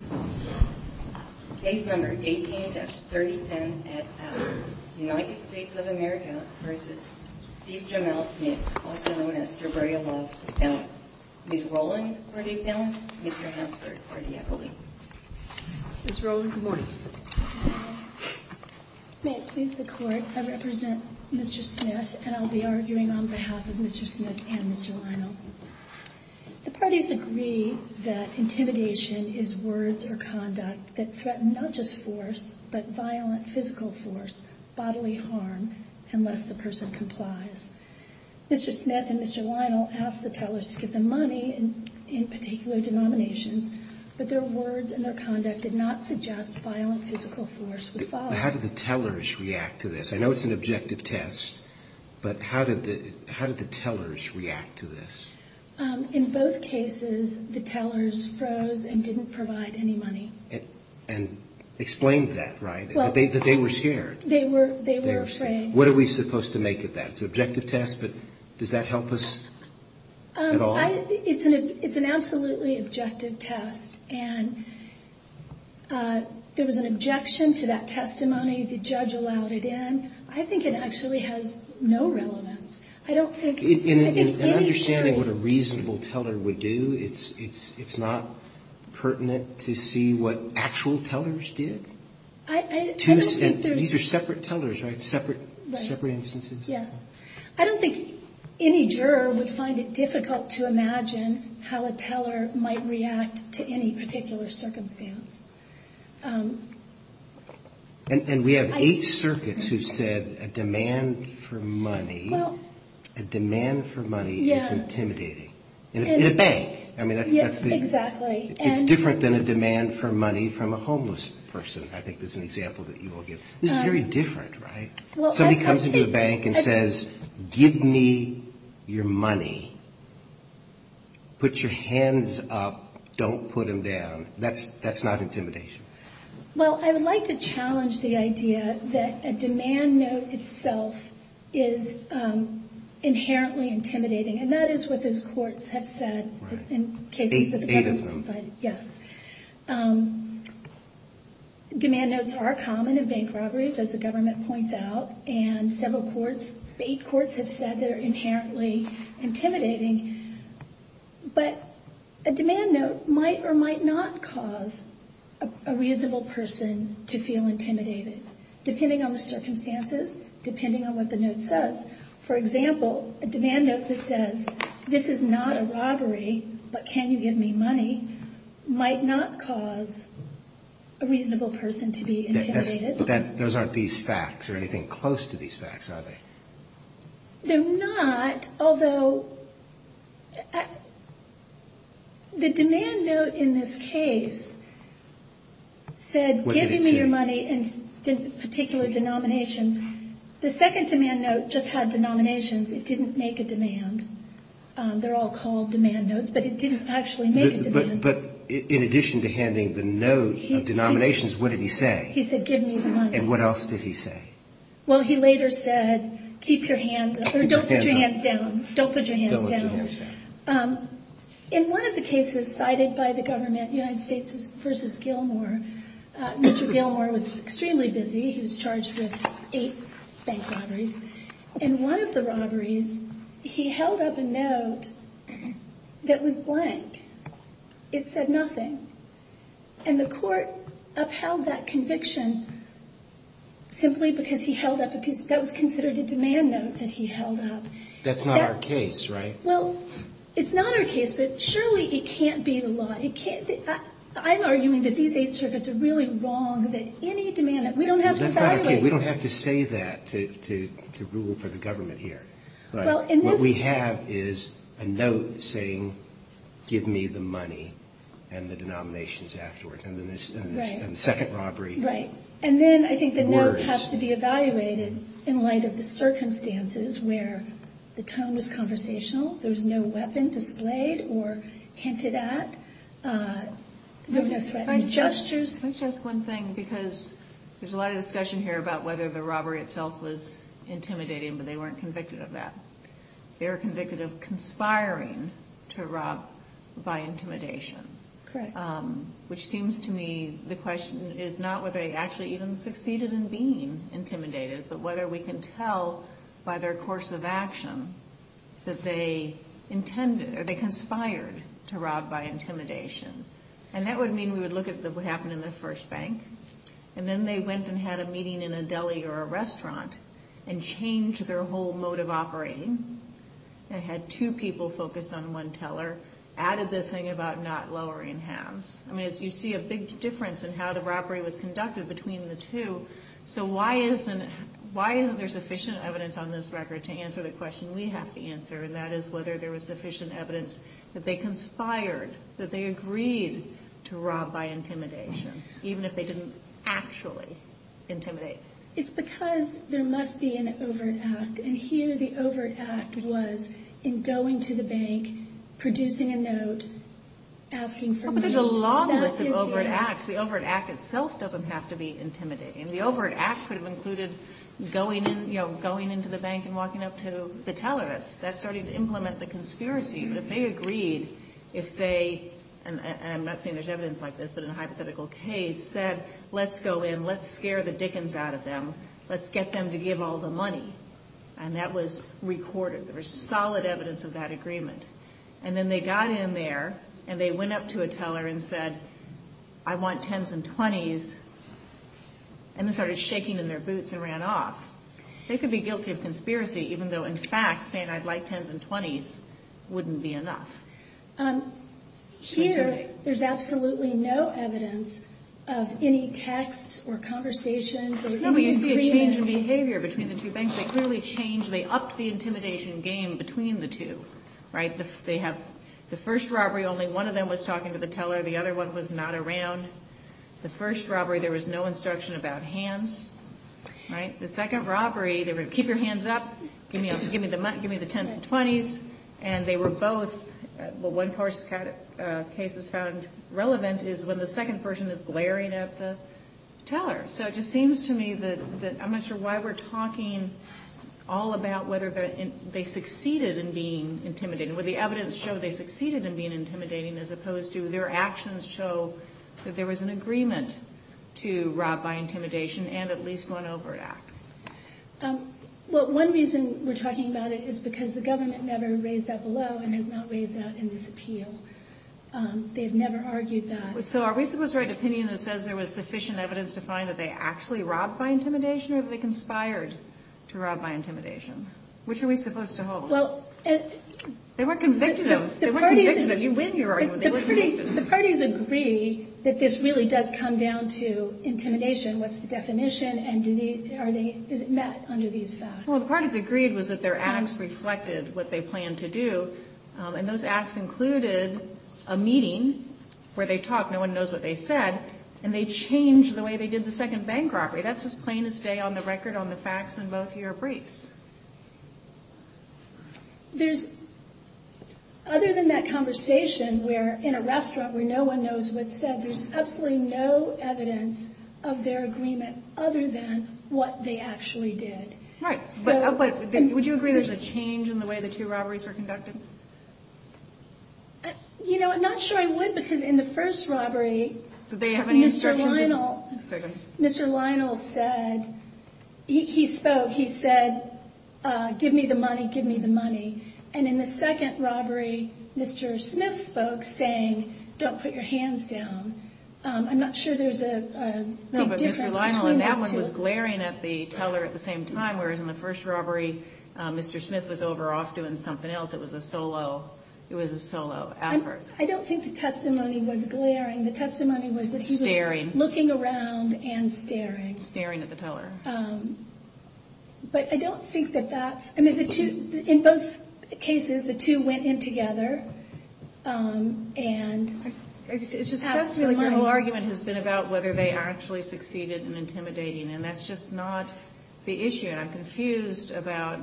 Ms. Rowland, good morning. May it please the Court, I represent Mr. Smith and I'll be arguing on behalf of Mr. Smith and Mr. Lionel. The parties agree that intimidation is words or conduct that threaten not just force, but violent physical force, bodily harm, unless the person complies. Mr. Smith and Mr. Lionel asked the tellers to give them money, in particular denominations, but their words and their conduct did not suggest violent physical force would follow. How did the tellers react to this? I know it's an objective test, but how did the tellers react to this? In both cases, the tellers froze and didn't provide any money. And explained that, right? That they were scared. They were afraid. What are we supposed to make of that? It's an objective test, but does that help us at all? It's an absolutely objective test. And there was an objection to that testimony. The judge allowed it in. I think it actually has no relevance. I don't think it really should. In understanding what a reasonable teller would do, it's not pertinent to see what actual tellers did? These are separate tellers, right? Separate instances? Yes. I don't think any juror would find it difficult to imagine how a teller might react to any particular circumstance. And we have eight circuits who said a demand for money is intimidating. In a bank. It's different than a demand for money from a homeless person, I think is an example that you all give. It's very different, right? Somebody comes into a bank and says, give me your money. Put your hands up. Don't put them down. That's not intimidation. Well, I would like to challenge the idea that a demand note itself is inherently intimidating. And that is what those courts have said. Eight of them? For example, a demand note that says, this is not a robbery, but can you give me money, might not cause a reasonable person to be intimidated. Those aren't these facts or anything close to these facts, are they? They're not, although the demand note in this case said, give me your money in particular denominations. The second demand note just had denominations. It didn't make a demand. They're all called demand notes, but it didn't actually make a demand. But in addition to handing the note of denominations, what did he say? He said, give me the money. And what else did he say? Well, he later said, keep your hands, or don't put your hands down. Don't put your hands down. In one of the cases cited by the government, United States v. Gilmore, Mr. Gilmore was extremely busy. He was charged with eight bank robberies. In one of the robberies, he held up a note that was blank. It said nothing. And the court upheld that conviction simply because he held up a piece that was considered a demand note that he held up. That's not our case, right? Well, it's not our case, but surely it can't be the law. I'm arguing that these eight circuits are really wrong, that any demand note... We don't have to say that to rule for the government here. What we have is a note saying, give me the money and the denominations afterwards, and the second robbery. Right. And then I think the note has to be evaluated in light of the circumstances where the tone was conversational, there was no weapon displayed or hinted at, there were no threatened gestures. Let me just ask one thing, because there's a lot of discussion here about whether the robbery itself was intimidating, but they weren't convicted of that. They were convicted of conspiring to rob by intimidation. Correct. Which seems to me the question is not whether they actually even succeeded in being intimidated, but whether we can tell by their course of action that they conspired to rob by intimidation. And that would mean we would look at what happened in the first bank, and then they went and had a meeting in a deli or a restaurant and changed their whole mode of operating. They had two people focused on one teller, added the thing about not lowering halves. I mean, you see a big difference in how the robbery was conducted between the two. So why isn't there sufficient evidence on this record to answer the question we have to answer, and that is whether there was sufficient evidence that they conspired, that they agreed to rob by intimidation, even if they didn't actually intimidate. It's because there must be an overt act, and here the overt act was in going to the bank, producing a note, asking for money. There's a long list of overt acts. The overt act itself doesn't have to be intimidating. The overt act could have included going into the bank and walking up to the teller. That's starting to implement the conspiracy. But if they agreed, if they, and I'm not saying there's evidence like this, but in a hypothetical case, said let's go in, let's scare the dickens out of them, let's get them to give all the money, and that was recorded. There was solid evidence of that agreement. And then they got in there, and they went up to a teller and said, I want 10s and 20s, and they started shaking in their boots and ran off. They could be guilty of conspiracy, even though in fact saying I'd like 10s and 20s wouldn't be enough. Here, there's absolutely no evidence of any text or conversations. No, but you see a change in behavior between the two banks. They clearly changed, they upped the intimidation game between the two. The first robbery, only one of them was talking to the teller. The other one was not around. The first robbery, there was no instruction about hands. The second robbery, they were keep your hands up, give me the 10s and 20s. And they were both, what one case has found relevant is when the second person is glaring at the teller. So it just seems to me that I'm not sure why we're talking all about whether they succeeded in being intimidating. Would the evidence show they succeeded in being intimidating as opposed to their actions show that there was an agreement to rob by intimidation and at least one overt act? Well, one reason we're talking about it is because the government never raised that below and has not raised that in this appeal. They have never argued that. So are we supposed to write opinion that says there was sufficient evidence to find that they actually robbed by intimidation or that they conspired to rob by intimidation? Which are we supposed to hold? They weren't convicted of, they weren't convicted of, you win your argument. The parties agree that this really does come down to intimidation. What's the definition and is it met under these facts? Well, the parties agreed was that their acts reflected what they planned to do. And those acts included a meeting where they talked, no one knows what they said, and they changed the way they did the second bank robbery. That's as plain as day on the record on the facts in both your briefs. There's, other than that conversation where in a restaurant where no one knows what's said, there's absolutely no evidence of their agreement other than what they actually did. Right. Would you agree there's a change in the way the two robberies were conducted? You know, I'm not sure I would because in the first robbery, Mr. Lionel said, he spoke, he said, give me the money, give me the money. And in the second robbery, Mr. Smith spoke saying, don't put your hands down. I'm not sure there's a difference between those two. That one was glaring at the teller at the same time, whereas in the first robbery, Mr. Smith was over off doing something else. It was a solo, it was a solo effort. I don't think the testimony was glaring. The testimony was that he was looking around and staring. Staring at the teller. But I don't think that that's, I mean, the two, in both cases, the two went in together. And it's just has to be the argument has been about whether they actually succeeded in intimidating. And that's just not the issue. And I'm confused about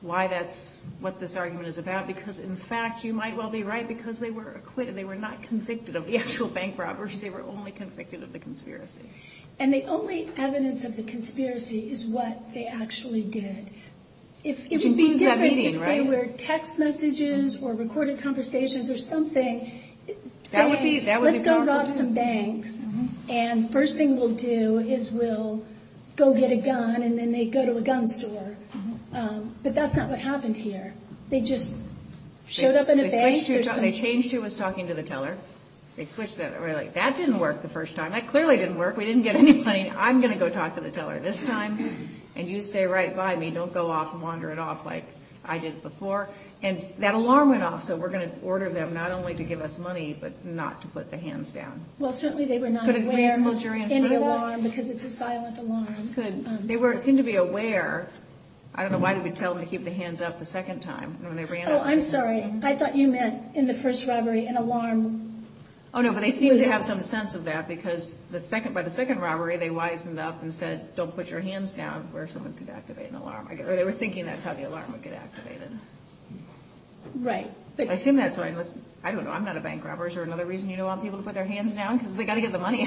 why that's what this argument is about, because, in fact, you might well be right, because they were acquitted. They were not convicted of the actual bank robberies. They were only convicted of the conspiracy. And the only evidence of the conspiracy is what they actually did. It would be different if they were text messages or recorded conversations or something saying, let's go rob some banks. And first thing we'll do is we'll go get a gun. And then they go to a gun store. But that's not what happened here. They just showed up in a bank. They changed who was talking to the teller. They switched that. That didn't work the first time. That clearly didn't work. We didn't get any money. I'm going to go talk to the teller this time. And you stay right by me. Don't go off and wander it off like I did before. And that alarm went off. So we're going to order them not only to give us money but not to put the hands down. Well, certainly they were not aware of any alarm because it's a silent alarm. Good. They seemed to be aware. I don't know why they would tell them to keep the hands up the second time. Oh, I'm sorry. I thought you meant in the first robbery an alarm. Oh, no. But they seemed to have some sense of that. Because by the second robbery, they wisened up and said, don't put your hands down, where someone could activate an alarm. Or they were thinking that's how the alarm would get activated. Right. I assume that's why. I don't know. I'm not a bank robber. Is there another reason you don't want people to put their hands down? Because they've got to get the money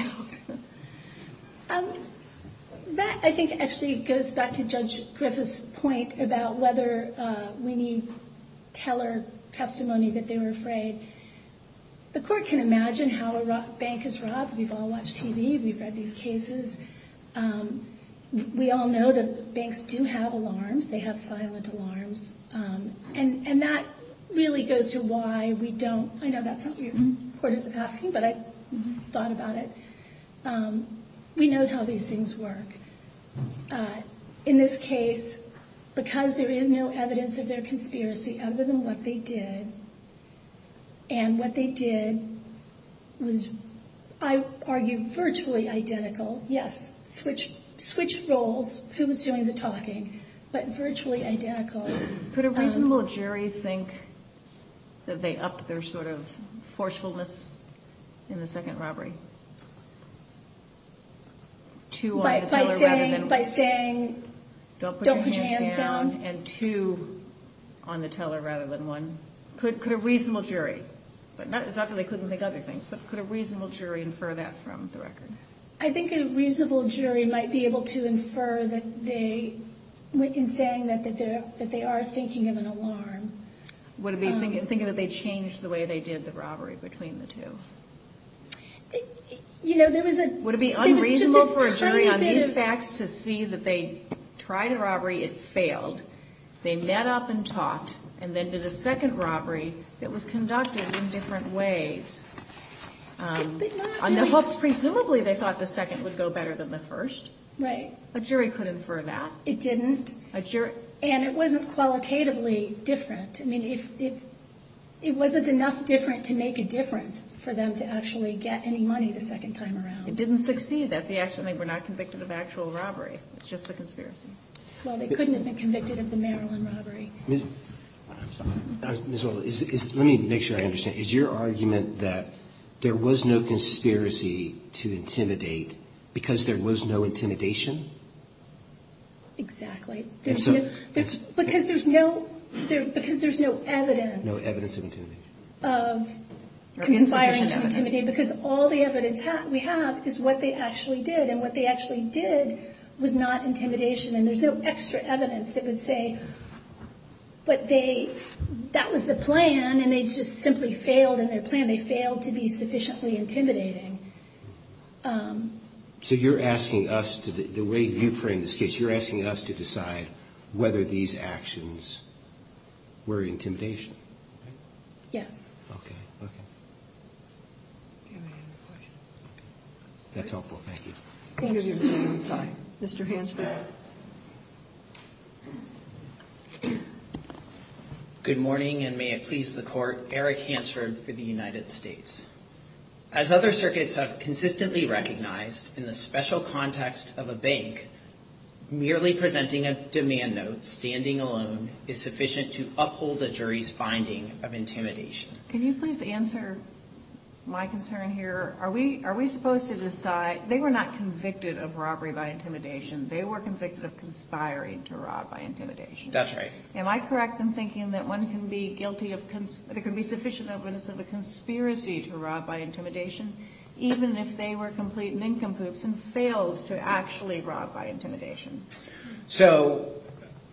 out. That, I think, actually goes back to Judge Griffith's point about whether we need teller testimony that they were afraid. The court can imagine how a bank is robbed. We've all watched TV. We've read these cases. We all know that banks do have alarms. They have silent alarms. And that really goes to why we don't. I know that's not what your court is asking, but I thought about it. We know how these things work. In this case, because there is no evidence of their conspiracy other than what they did, and what they did was, I argue, virtually identical. Yes, switch roles. Who was doing the talking? But virtually identical. Could a reasonable jury think that they upped their sort of forcefulness in the second robbery? Two on the teller rather than one. By saying, don't put your hands down? Don't put your hands down. And two on the teller rather than one. Could a reasonable jury, not that they couldn't think of other things, but could a reasonable jury infer that from the record? I think a reasonable jury might be able to infer that they, in saying that, that they are thinking of an alarm. Would it be thinking that they changed the way they did the robbery between the two? Would it be unreasonable for a jury on these facts to see that they tried a robbery, it failed, they met up and talked, and then did a second robbery that was conducted in different ways? Presumably they thought the second would go better than the first. Right. A jury could infer that. It didn't. And it wasn't qualitatively different. I mean, it wasn't enough different to make a difference for them to actually get any money the second time around. It didn't succeed. That's the accident. They were not convicted of actual robbery. It's just the conspiracy. Well, they couldn't have been convicted of the Maryland robbery. Let me make sure I understand. Is your argument that there was no conspiracy to intimidate because there was no intimidation? Exactly. Because there's no evidence. No evidence of intimidation. Of conspiring to intimidate because all the evidence we have is what they actually did. And what they actually did was not intimidation. And there's no extra evidence that would say that was the plan and they just simply failed in their plan. They failed to be sufficiently intimidating. So you're asking us to the way you frame this case, you're asking us to decide whether these actions were intimidation. Yes. Okay. Okay. That's helpful. Thank you. Mr. Hansford. Good morning, and may it please the Court. Eric Hansford for the United States. As other circuits have consistently recognized in the special context of a bank, merely presenting a demand note standing alone is sufficient to uphold the jury's finding of intimidation. Can you please answer my concern here? Are we supposed to decide they were not convicted of robbery by intimidation. They were convicted of conspiring to rob by intimidation. That's right. Am I correct in thinking that one can be guilty of, there can be sufficient evidence of a conspiracy to rob by intimidation, even if they were complete nincompoops and failed to actually rob by intimidation? So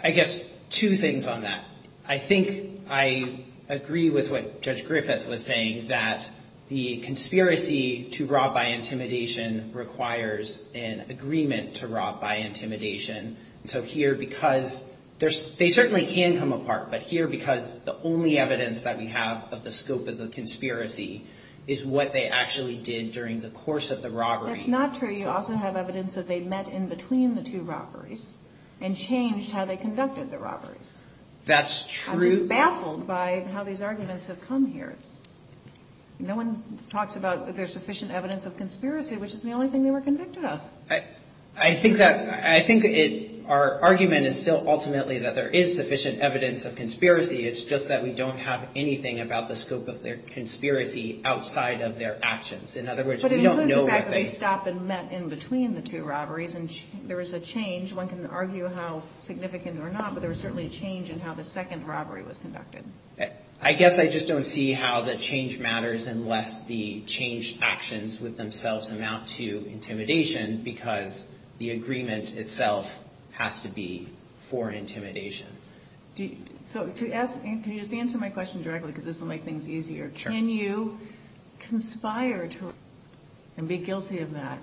I guess two things on that. I think I agree with what Judge Griffith was saying that the conspiracy to rob by intimidation requires an agreement to rob by intimidation. So here, because they certainly can come apart, but here because the only evidence that we have of the scope of the conspiracy is what they actually did during the course of the robbery. That's not true. You also have evidence that they met in between the two robberies and changed how they conducted the robberies. That's true. I'm just baffled by how these arguments have come here. No one talks about there's sufficient evidence of conspiracy, which is the only thing they were convicted of. I think that our argument is still ultimately that there is sufficient evidence of conspiracy. It's just that we don't have anything about the scope of their conspiracy outside of their actions. In other words, we don't know what they. But it includes the fact that they stopped and met in between the two robberies and there was a change. One can argue how significant or not, but there was certainly a change in how the second robbery was conducted. I guess I just don't see how the change matters unless the change actions with themselves amount to intimidation, because the agreement itself has to be for intimidation. Can you just answer my question directly because this will make things easier? Sure. Can you conspire to and be guilty of that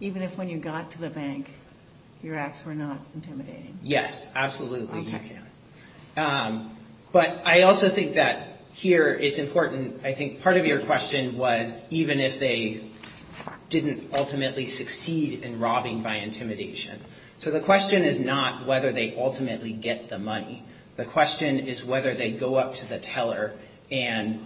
even if when you got to the bank your acts were not intimidating? Yes, absolutely you can. But I also think that here it's important. I think part of your question was even if they didn't ultimately succeed in robbing by intimidation. So the question is not whether they ultimately get the money. The question is whether they go up to the teller and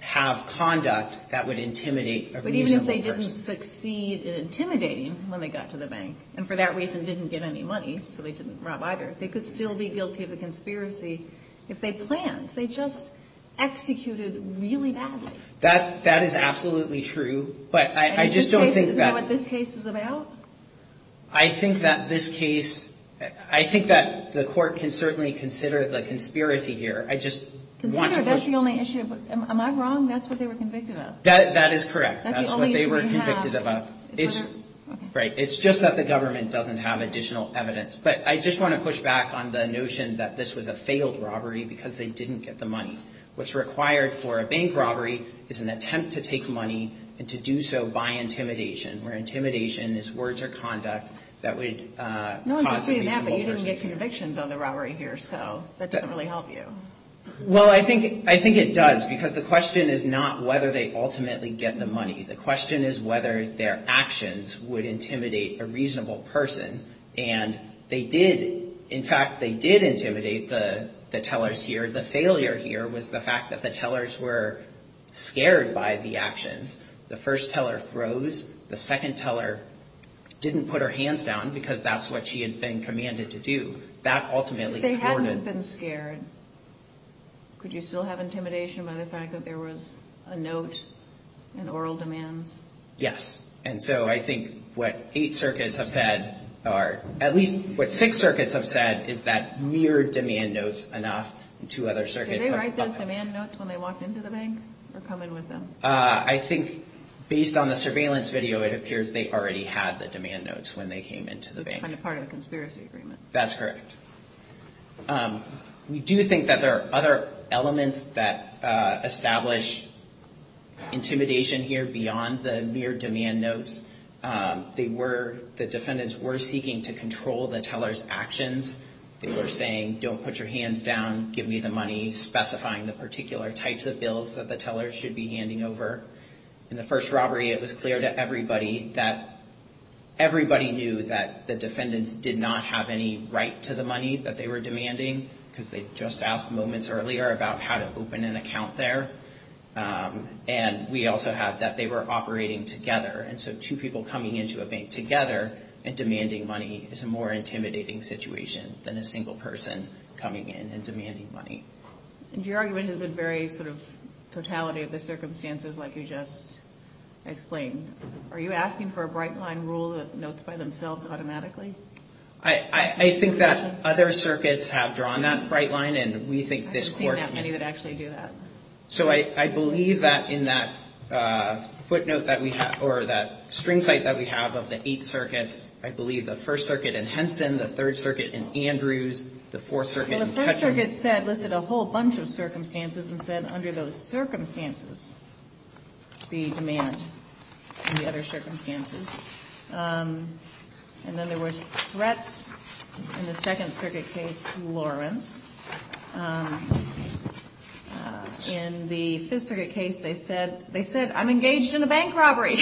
have conduct that would intimidate a reasonable person. But even if they didn't succeed in intimidating when they got to the bank and for that reason didn't get any money, so they didn't rob either, they could still be guilty of the conspiracy if they planned. They just executed really badly. That is absolutely true. But I just don't think that. Isn't that what this case is about? I think that this case, I think that the court can certainly consider the conspiracy here. I just want to. Consider that's the only issue. Am I wrong? That's what they were convicted of. That is correct. That's what they were convicted of. Right. It's just that the government doesn't have additional evidence. But I just want to push back on the notion that this was a failed robbery because they didn't get the money. What's required for a bank robbery is an attempt to take money and to do so by intimidation, where intimidation is words or conduct that would cause a reasonable person. No one is saying that, but you didn't get convictions on the robbery here, so that doesn't really help you. Well, I think it does because the question is not whether they ultimately get the money. The question is whether their actions would intimidate a reasonable person. And they did. In fact, they did intimidate the tellers here. The failure here was the fact that the tellers were scared by the actions. The first teller froze. The second teller didn't put her hands down because that's what she had been commanded to do. That ultimately thwarted. If they hadn't been scared, could you still have intimidation by the fact that there was a note, and oral demands? Yes. And so I think what eight circuits have said, or at least what six circuits have said, is that mere demand notes enough. Two other circuits. Did they write those demand notes when they walked into the bank or come in with them? I think based on the surveillance video, it appears they already had the demand notes when they came into the bank. It was kind of part of the conspiracy agreement. That's correct. We do think that there are other elements that establish intimidation here beyond the mere demand notes. The defendants were seeking to control the tellers' actions. They were saying, don't put your hands down, give me the money, specifying the particular types of bills that the tellers should be handing over. In the first robbery, it was clear to everybody that everybody knew that the defendants did not have any right to the money that they were demanding, because they just asked moments earlier about how to open an account there. And we also have that they were operating together, and so two people coming into a bank together and demanding money is a more intimidating situation than a single person coming in and demanding money. And your argument has been very sort of totality of the circumstances like you just explained. Are you asking for a bright line rule that notes by themselves automatically? I think that other circuits have drawn that bright line, and we think this Court needs it. I haven't seen that many that actually do that. So I believe that in that footnote that we have, or that string cite that we have of the eight circuits, I believe the First Circuit in Henson, the Third Circuit in Andrews, the Fourth Circuit in Hutchin. Well, the First Circuit said, listed a whole bunch of circumstances, and said under those circumstances the demand and the other circumstances. And then there was threats in the Second Circuit case, Lawrence. In the Fifth Circuit case, they said, I'm engaged in a bank robbery.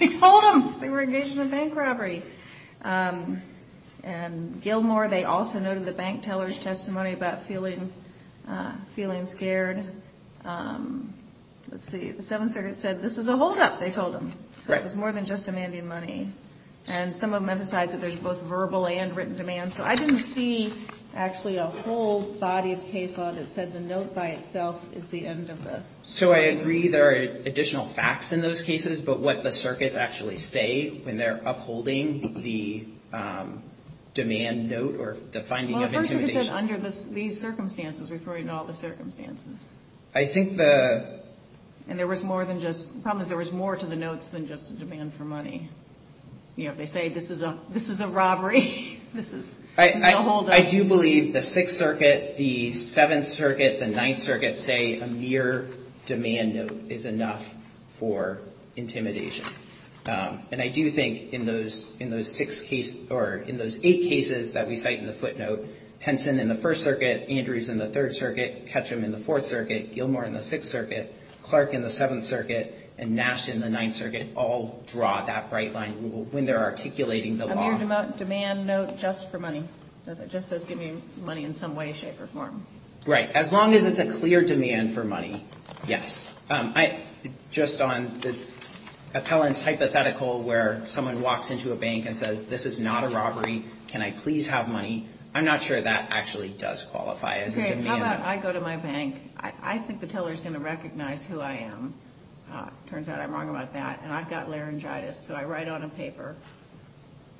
They told them they were engaged in a bank robbery. And Gilmore, they also noted the bank teller's testimony about feeling scared. Let's see, the Seventh Circuit said, this is a holdup, they told them. So it was more than just demanding money. And some of them emphasize that there's both verbal and written demand. So I didn't see actually a whole body of case law that said the note by itself is the end of the story. So I agree there are additional facts in those cases, but what the circuits actually say when they're upholding the demand note or the finding of intimidation. Well, the First Circuit said under these circumstances, referring to all the circumstances. I think the... And there was more than just, the problem is there was more to the notes than just a demand for money. You know, if they say this is a robbery, this is a holdup. I do believe the Sixth Circuit, the Seventh Circuit, the Ninth Circuit say a mere demand note is enough for intimidation. And I do think in those eight cases that we cite in the footnote, Henson in the First Circuit, Andrews in the Third Circuit, Ketchum in the Fourth Circuit, Gilmore in the Sixth Circuit, Clark in the Seventh Circuit, and Nash in the Ninth Circuit all draw that bright line when they're articulating the law. A mere demand note just for money. It just says give me money in some way, shape, or form. Right. As long as it's a clear demand for money, yes. Just on the appellant's hypothetical where someone walks into a bank and says this is not a robbery, can I please have money. I'm not sure that actually does qualify as a demand note. How about I go to my bank. I think the teller's going to recognize who I am. Turns out I'm wrong about that. And I've got laryngitis, so I write on a paper,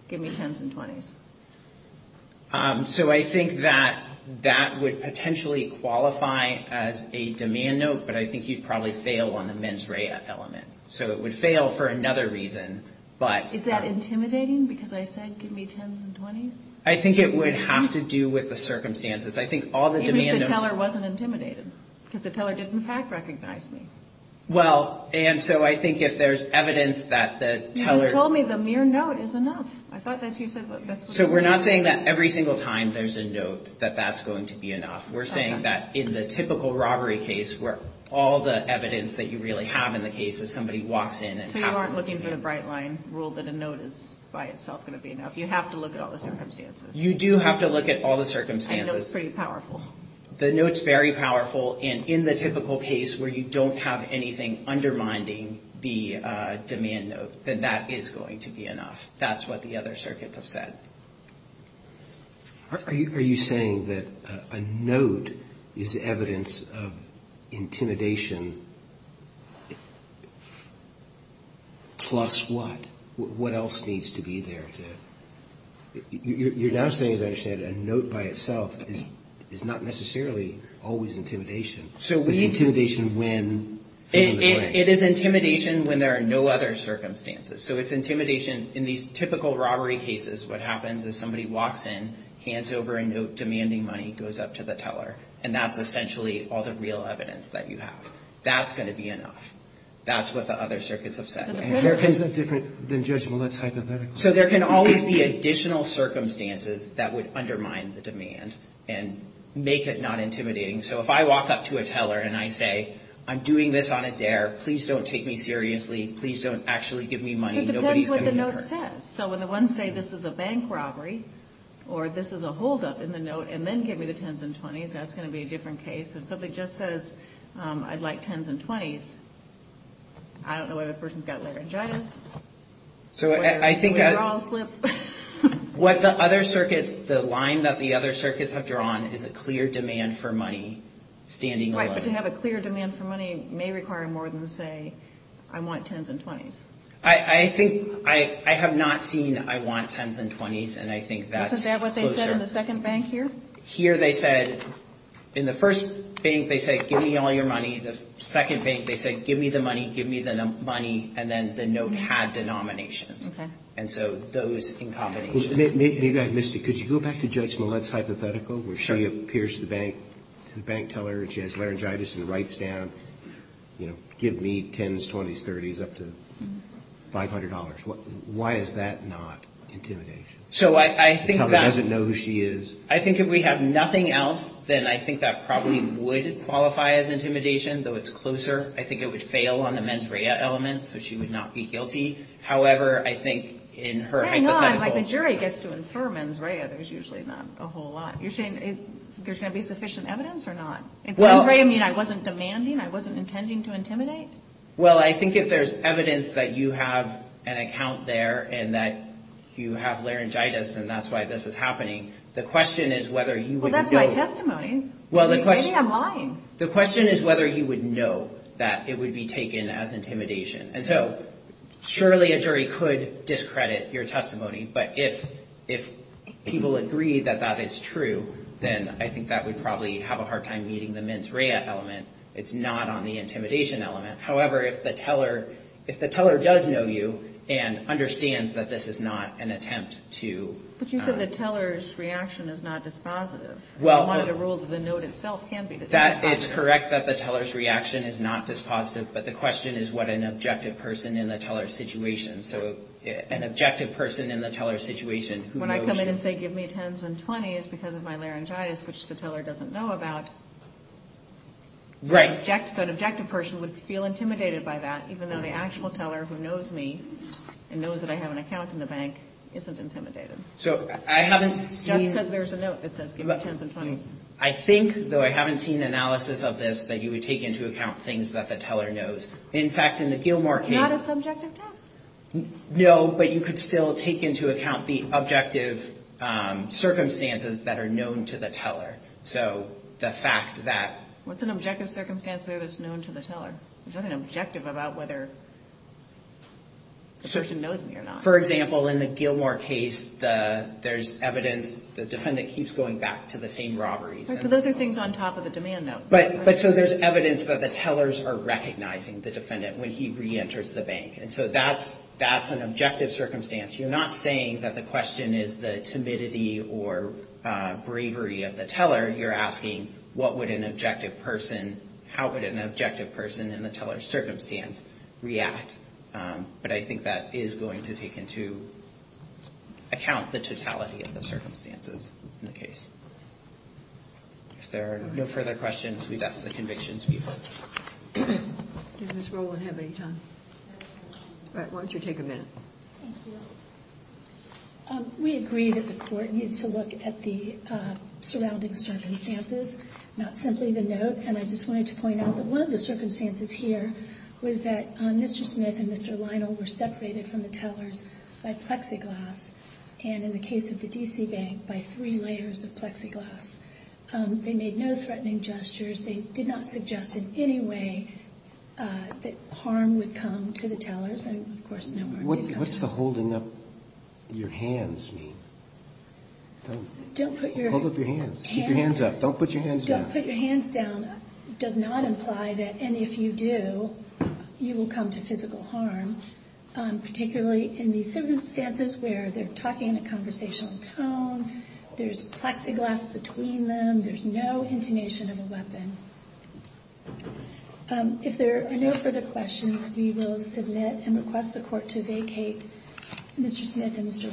give me 10s and 20s. So I think that that would potentially qualify as a demand note, but I think you'd probably fail on the mens rea element. So it would fail for another reason, but. Is that intimidating because I said give me 10s and 20s? I think it would have to do with the circumstances. I think all the demand notes. Even if the teller wasn't intimidated because the teller didn't in fact recognize me. Well, and so I think if there's evidence that the teller. You just told me the mere note is enough. I thought that's what you said. So we're not saying that every single time there's a note that that's going to be enough. We're saying that in the typical robbery case where all the evidence that you really have in the case is somebody walks in. So you aren't looking for the bright line rule that a note is by itself going to be enough. You have to look at all the circumstances. You do have to look at all the circumstances. I think that's pretty powerful. The note's very powerful. And in the typical case where you don't have anything undermining the demand note, then that is going to be enough. That's what the other circuits have said. Are you saying that a note is evidence of intimidation plus what? What else needs to be there? You're now saying, as I understand it, a note by itself is not necessarily always intimidation. It's intimidation when? It is intimidation when there are no other circumstances. So it's intimidation in these typical robbery cases. What happens is somebody walks in, hands over a note demanding money, goes up to the teller, and that's essentially all the real evidence that you have. That's going to be enough. That's what the other circuits have said. And there isn't different than judgment. That's hypothetical. So there can always be additional circumstances that would undermine the demand and make it not intimidating. So if I walk up to a teller and I say, I'm doing this on a dare. Please don't take me seriously. Please don't actually give me money. It depends what the note says. So when the ones say, this is a bank robbery, or this is a holdup in the note, and then give me the 10s and 20s, that's going to be a different case. If somebody just says, I'd like 10s and 20s, I don't know whether the person's got laryngitis. So I think what the other circuits, the line that the other circuits have drawn, is a clear demand for money standing alone. But to have a clear demand for money may require more than to say, I want 10s and 20s. I think I have not seen I want 10s and 20s. And I think that's closer. Isn't that what they said in the second bank here? Here they said, in the first bank, they said, give me all your money. The second bank, they said, give me the money, give me the money. And then the note had denominations. Okay. And so those in combination. Maybe I missed it. Could you go back to Judge Millett's hypothetical where she appears to the bank, to the bank teller that she has laryngitis and writes down, you know, give me 10s, 20s, 30s, up to $500. Why is that not intimidation? So I think that. The teller doesn't know who she is. I think if we have nothing else, then I think that probably would qualify as intimidation, though it's closer. I think it would fail on the mens rea element, so she would not be guilty. However, I think in her hypothetical. Hang on. Like, the jury gets to infer mens rea. There's usually not a whole lot. You're saying there's going to be sufficient evidence or not? Well. I mean, I wasn't demanding. I wasn't intending to intimidate. Well, I think if there's evidence that you have an account there and that you have laryngitis and that's why this is happening. The question is whether you would. That's my testimony. Well, the question. Maybe I'm lying. The question is whether you would know that it would be taken as intimidation. And so surely a jury could discredit your testimony. But if people agree that that is true, then I think that would probably have a hard time meeting the mens rea element. It's not on the intimidation element. However, if the teller does know you and understands that this is not an attempt to. But you said the teller's reaction is not dispositive. Well. I wanted to rule that the note itself can be dispositive. That is correct, that the teller's reaction is not dispositive. But the question is what an objective person in the teller's situation. So an objective person in the teller's situation. When I come in and say give me 10s and 20s because of my laryngitis, which the teller doesn't know about. Right. So an objective person would feel intimidated by that, even though the actual teller who knows me and knows that I have an account in the bank isn't intimidated. So I haven't seen. Just because there's a note that says give me 10s and 20s. I think, though I haven't seen analysis of this, that you would take into account things that the teller knows. In fact, in the Gilmore case. It's not a subjective test. No, but you could still take into account the objective circumstances that are known to the teller. So the fact that. What's an objective circumstance there that's known to the teller? Is that an objective about whether the person knows me or not? For example, in the Gilmore case, there's evidence the defendant keeps going back to the same robberies. So those are things on top of the demand note. But but so there's evidence that the tellers are recognizing the defendant when he reenters the bank. And so that's that's an objective circumstance. You're not saying that the question is the timidity or bravery of the teller. You're asking what would an objective person. How would an objective person in the teller circumstance react? But I think that is going to take into account the totality of the circumstances in the case. If there are no further questions, we've asked the convictions before. This role would have any time. Why don't you take a minute? We agree that the court needs to look at the surrounding circumstances, not simply the note. And I just wanted to point out that one of the circumstances here was that Mr. Smith and Mr. by plexiglass. And in the case of the D.C. bank, by three layers of plexiglass, they made no threatening gestures. They did not suggest in any way that harm would come to the tellers. And, of course, what's the holding up your hands? Don't put your hands up. Don't put your hands down. Put your hands down. Does not imply that. And if you do, you will come to physical harm, particularly in the circumstances where they're talking in a conversational tone. There's plexiglass between them. There's no intonation of a weapon. If there are no further questions, we will submit and request the court to vacate. Mr. Smith and Mr.